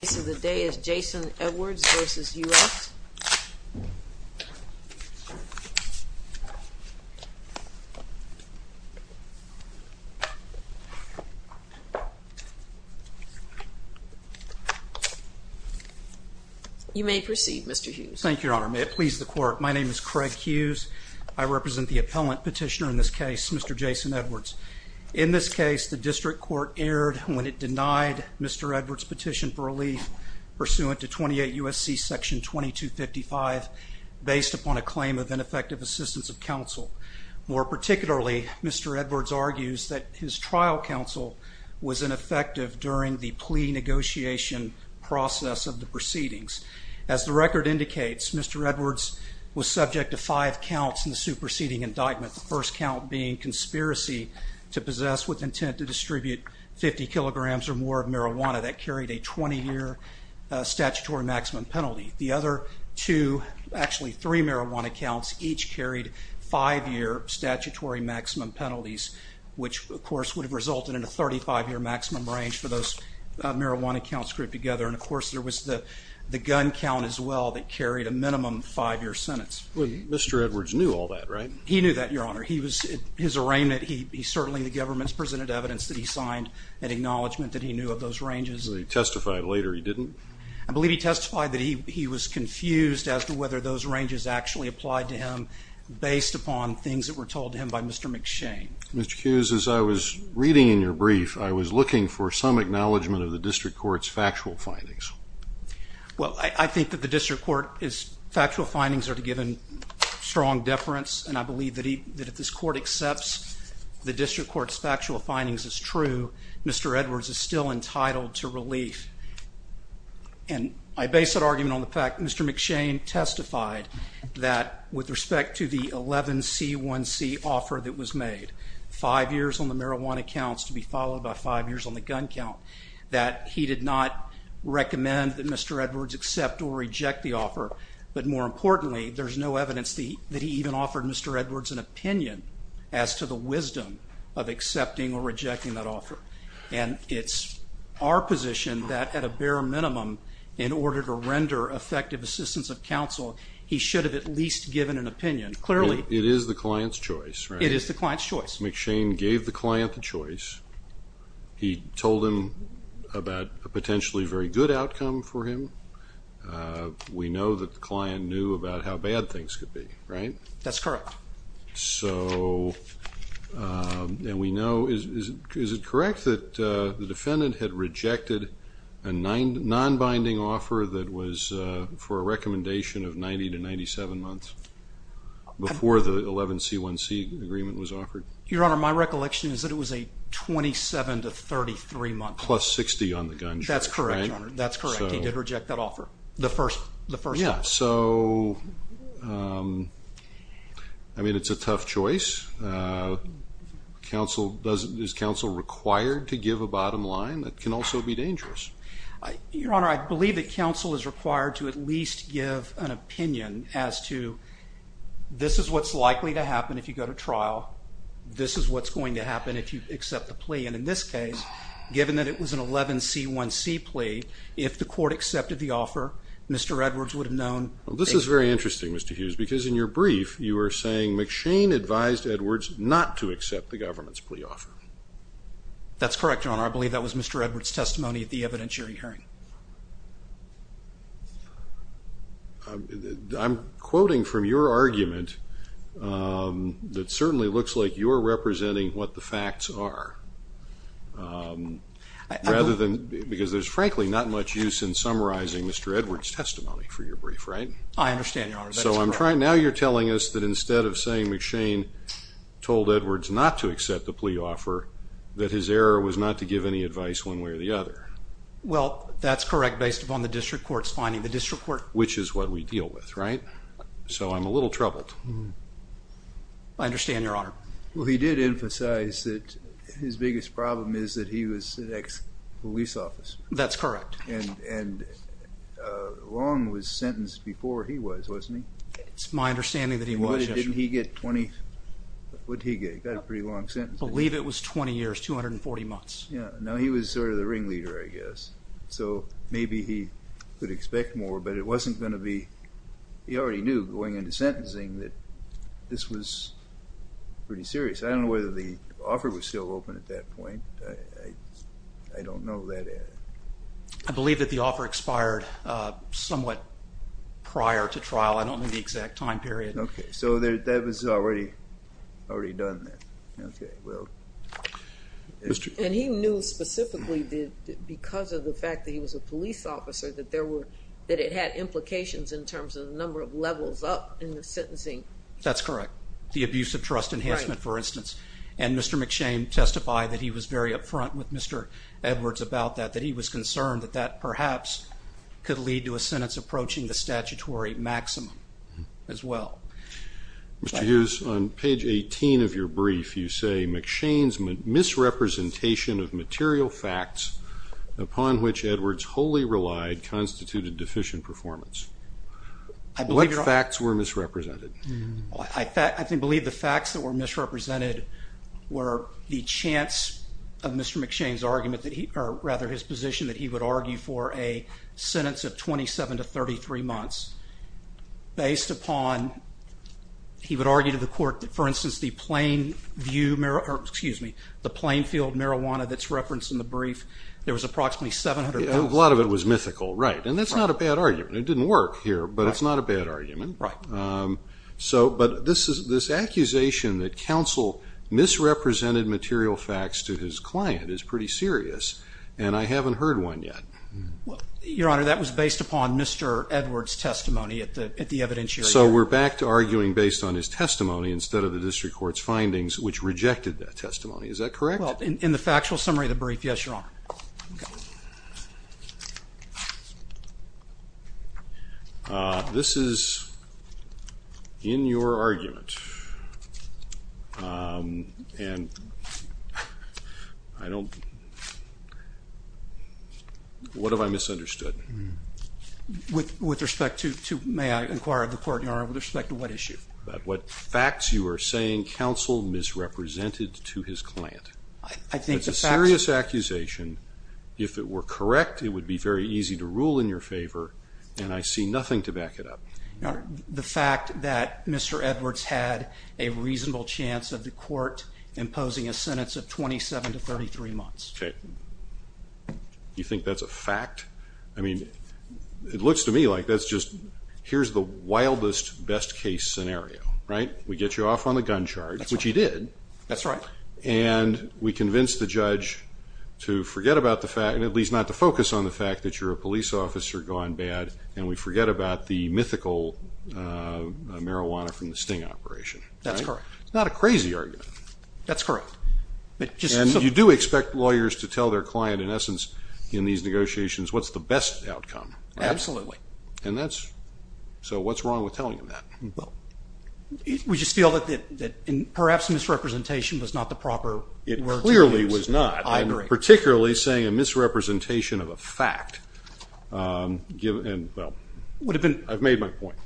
The case of the day is Jason Edwards v. U.S. You may proceed, Mr. Hughes. Thank you, Your Honor. May it please the Court, my name is Craig Hughes. I represent the appellant petitioner in this case, Mr. Jason Edwards. In this case, the district court erred when it denied Mr. Edwards' petition for relief pursuant to 28 U.S.C. section 2255 based upon a claim of ineffective assistance of counsel. More particularly, Mr. Edwards argues that his trial counsel was ineffective during the plea negotiation process of the proceedings. As the record indicates, Mr. Edwards was subject to five counts in the superseding indictment, the first count being conspiracy to possess with intent to distribute 50 kilograms or more of marijuana that carried a 20-year statutory maximum penalty. The other two, actually three marijuana counts, each carried five-year statutory maximum penalties, which, of course, would have resulted in a 35-year maximum range for those marijuana counts grouped together. And, of course, there was the gun count as well that carried a minimum five-year sentence. Well, Mr. Edwards knew all that, right? He knew that, Your Honor. His arraignment, he certainly in the government presented evidence that he signed an acknowledgment that he knew of those ranges. He testified later he didn't? I believe he testified that he was confused as to whether those ranges actually applied to him based upon things that were told to him by Mr. McShane. Mr. Hughes, as I was reading in your brief, I was looking for some acknowledgment of the district court's factual findings. Well, I think that the district court's factual findings are given strong deference, and I believe that if this court accepts the district court's factual findings as true, Mr. Edwards is still entitled to relief. And I base that argument on the fact that Mr. McShane testified that with respect to the 11C1C offer that was made, five years on the marijuana counts to be followed by five years on the gun count, that he did not recommend that Mr. Edwards accept or reject the offer. But more importantly, there's no evidence that he even offered Mr. Edwards an opinion as to the wisdom of accepting or rejecting that offer. And it's our position that at a bare minimum, in order to render effective assistance of counsel, he should have at least given an opinion. Clearly. It is the client's choice, right? McShane gave the client the choice. He told him about a potentially very good outcome for him. We know that the client knew about how bad things could be, right? That's correct. So, and we know, is it correct that the defendant had rejected a non-binding offer that was for a recommendation of 90 to 97 months before the 11C1C agreement was offered? Your Honor, my recollection is that it was a 27 to 33 month. Plus 60 on the gun charge, right? That's correct, Your Honor. That's correct. He did reject that offer. The first one. Yeah. So, I mean, it's a tough choice. Is counsel required to give a bottom line? It can also be dangerous. Your Honor, I believe that counsel is required to at least give an opinion as to this is what's likely to happen if you go to trial. This is what's going to happen if you accept the plea. And in this case, given that it was an 11C1C plea, if the court accepted the offer, Mr. Edwards would have known. Well, this is very interesting, Mr. Hughes, because in your brief you were saying McShane advised Edwards not to accept the government's plea offer. That's correct, Your Honor. I believe that was Mr. Edwards' testimony at the evidentiary hearing. I'm quoting from your argument that certainly looks like you're representing what the facts are, rather than, because there's frankly not much use in summarizing Mr. Edwards' testimony for your brief, right? I understand, Your Honor. That's correct. So now you're telling us that instead of saying McShane told Edwards not to accept the plea offer, that his error was not to give any advice one way or the other. Well, that's correct, based upon the district court's finding. The district court... Which is what we deal with, right? So I'm a little troubled. I understand, Your Honor. Well, he did emphasize that his biggest problem is that he was an ex-police officer. That's correct. And Long was sentenced before he was, wasn't he? It's my understanding that he was, yes. What did he get? He got a pretty long sentence. I believe it was 20 years, 240 months. Yeah. Now, he was sort of the ringleader, I guess. So maybe he could expect more, but it wasn't going to be, he already knew going into sentencing that this was pretty serious. I don't know whether the offer was still open at that point. I don't know that. I believe that the offer expired somewhat prior to trial. I don't know the exact time period. Okay. So that was already done then. Okay. And he knew specifically because of the fact that he was a police officer that there were, that it had implications in terms of the number of levels up in the sentencing. That's correct. The abuse of trust enhancement, for instance. And Mr. McShane testified that he was very up front with Mr. Edwards about that, that he was concerned that that perhaps could lead to a sentence approaching the statutory maximum as well. Mr. Hughes, on page 18 of your brief, you say McShane's misrepresentation of material facts upon which Edwards wholly relied constituted deficient performance. What facts were misrepresented? I believe the facts that were misrepresented were the chance of Mr. McShane's argument, or rather his position that he would argue for a sentence of 27 to 33 months based upon, he would argue to the court that, for instance, the Plainfield marijuana that's referenced in the brief, there was approximately 700 pounds. A lot of it was mythical. Right. And that's not a bad argument. It didn't work here, but it's not a bad argument. Right. But this accusation that counsel misrepresented material facts to his client is pretty serious, and I haven't heard one yet. Your Honor, that was based upon Mr. Edwards' testimony at the evidentiary. So we're back to arguing based on his testimony instead of the district court's findings, which rejected that testimony. Is that correct? Well, in the factual summary of the brief, yes, Your Honor. This is in your argument, and I don't What have I misunderstood? With respect to, may I inquire of the court, Your Honor, with respect to what issue? What facts you are saying counsel misrepresented to his client. I think the facts. It's a serious accusation. If it were correct, it would be very easy to rule in your favor, and I see nothing to back it up. Your Honor, the fact that Mr. Edwards had a reasonable chance of the court imposing a sentence of 27 to 33 months. Okay. You think that's a fact? I mean, it looks to me like that's just, here's the wildest best case scenario, right? We get you off on the gun charge, which you did. That's right. And we convince the judge to forget about the fact, at least not to focus on the fact that you're a police officer gone bad, and we forget about the mythical marijuana from the sting operation. That's correct. It's not a crazy argument. That's correct. And you do expect lawyers to tell their client, in essence, in these negotiations, what's the best outcome, right? Absolutely. And that's, so what's wrong with telling them that? We just feel that perhaps misrepresentation was not the proper word to use. It clearly was not. I agree. I'm particularly saying a misrepresentation of a fact, and, well, I've made my point.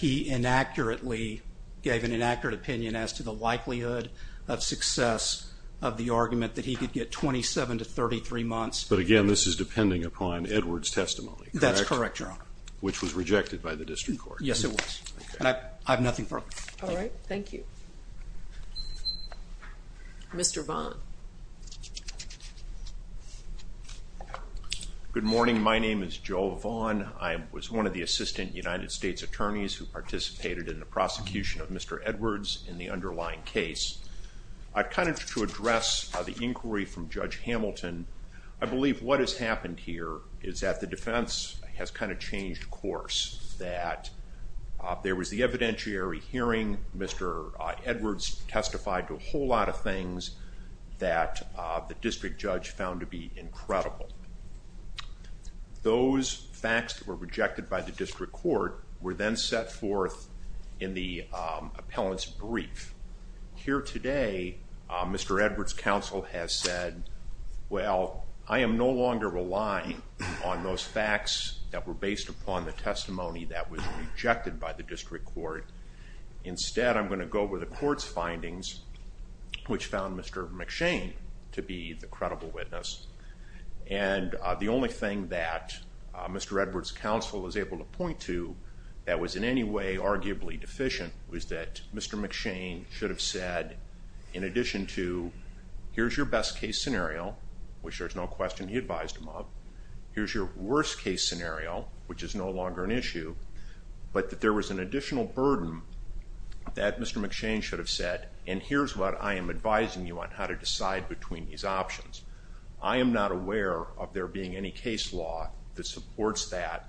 He inaccurately gave an inaccurate opinion as to the likelihood of success of the argument that he could get 27 to 33 months. But, again, this is depending upon Edward's testimony, correct? That's correct, Your Honor. Which was rejected by the district court. Yes, it was. And I have nothing further. All right. Thank you. Mr. Vaughn. Good morning. My name is Joe Vaughn. I was one of the assistant United States attorneys who participated in the prosecution of Mr. Edwards in the underlying case. I kind of, to address the inquiry from Judge Hamilton, I believe what has happened here is that the defense has kind of changed course, that there was the evidentiary hearing. Mr. Edwards testified to a whole lot of things that the district judge found to be incredible. Those facts that were rejected by the district court were then set forth in the appellant's brief. Here today, Mr. Edwards' counsel has said, well, I am no longer relying on those facts that were based upon the testimony that was rejected by the district court. Instead, I'm going to go with the court's findings, which found Mr. McShane to be the credible witness. The only thing that Mr. Edwards' counsel was able to point to that was in any way arguably deficient was that Mr. McShane should have said, in addition to here's your best case scenario, which there's no question he advised him of, here's your worst case scenario, which is no longer an issue, but that there was an additional burden that Mr. McShane should have said, and here's what I am advising you on how to decide between these options. I am not aware of there being any case law that supports that,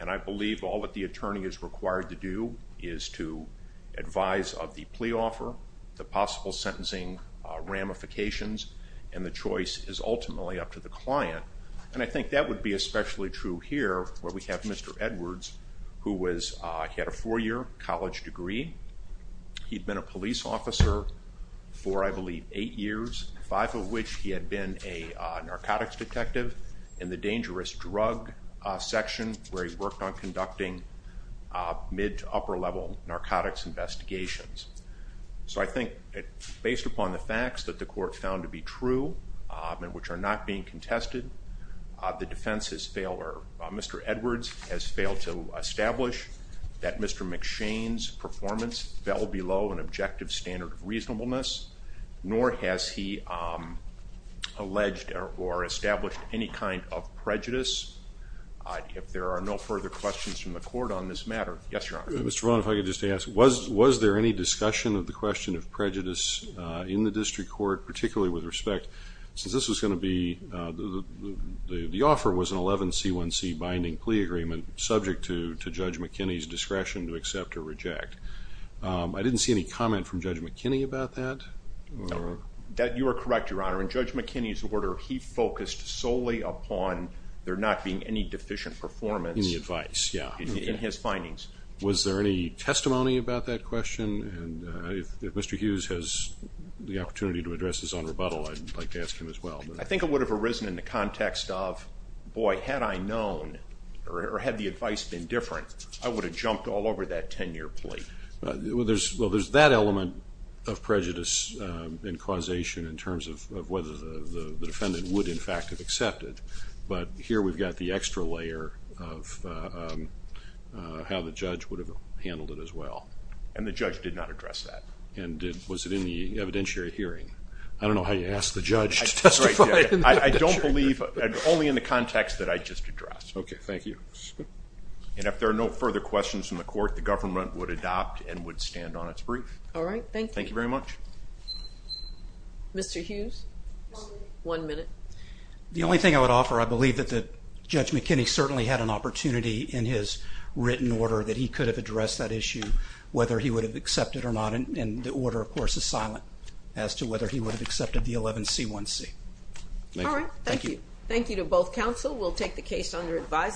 and I believe all that the attorney is required to do is to advise of the plea offer, the possible sentencing ramifications, and the choice is ultimately up to the client. And I think that would be especially true here, where we have Mr. Edwards, who had a four-year college degree. He'd been a police officer for, I believe, eight years, five of which he had been a narcotics detective in the dangerous drug section, where he worked on conducting mid- to upper-level narcotics investigations. So I think based upon the facts that the court found to be true, and which are not being contested, the defense has failed or Mr. Edwards has failed to establish that Mr. McShane's performance fell below an objective standard of reasonableness, nor has he alleged or established any kind of prejudice. If there are no further questions from the court on this matter. Yes, Your Honor. Mr. Brown, if I could just ask, was there any discussion of the question of prejudice in the district court, particularly with respect, since this was going to be, the offer was an 11C1C binding plea agreement, subject to Judge McKinney's discretion to accept or reject. I didn't see any comment from Judge McKinney about that. You are correct, Your Honor. In Judge McKinney's order, he focused solely upon there not being any deficient performance. In the advice, yeah. In his findings. Was there any testimony about that question? And if Mr. Hughes has the opportunity to address this on rebuttal, I'd like to ask him as well. I think it would have arisen in the context of, boy, had I known or had the advice been different, I would have jumped all over that 10-year plea. Well, there's that element of prejudice and causation in terms of whether the defendant would, in fact, have accepted. But here we've got the extra layer of how the judge would have handled it as well. And the judge did not address that. And was it in the evidentiary hearing? I don't know how you ask the judge to testify in the evidentiary hearing. I don't believe, only in the context that I just addressed. Okay, thank you. And if there are no further questions from the court, the government would adopt and would stand on its brief. All right, thank you. Thank you very much. Mr. Hughes? One minute. The only thing I would offer, I believe that Judge McKinney certainly had an opportunity in his written order that he could have addressed that issue, whether he would have accepted or not. And the order, of course, is silent as to whether he would have accepted the 11C1C. All right. Thank you. Thank you to both counsel. We'll take the case under advice.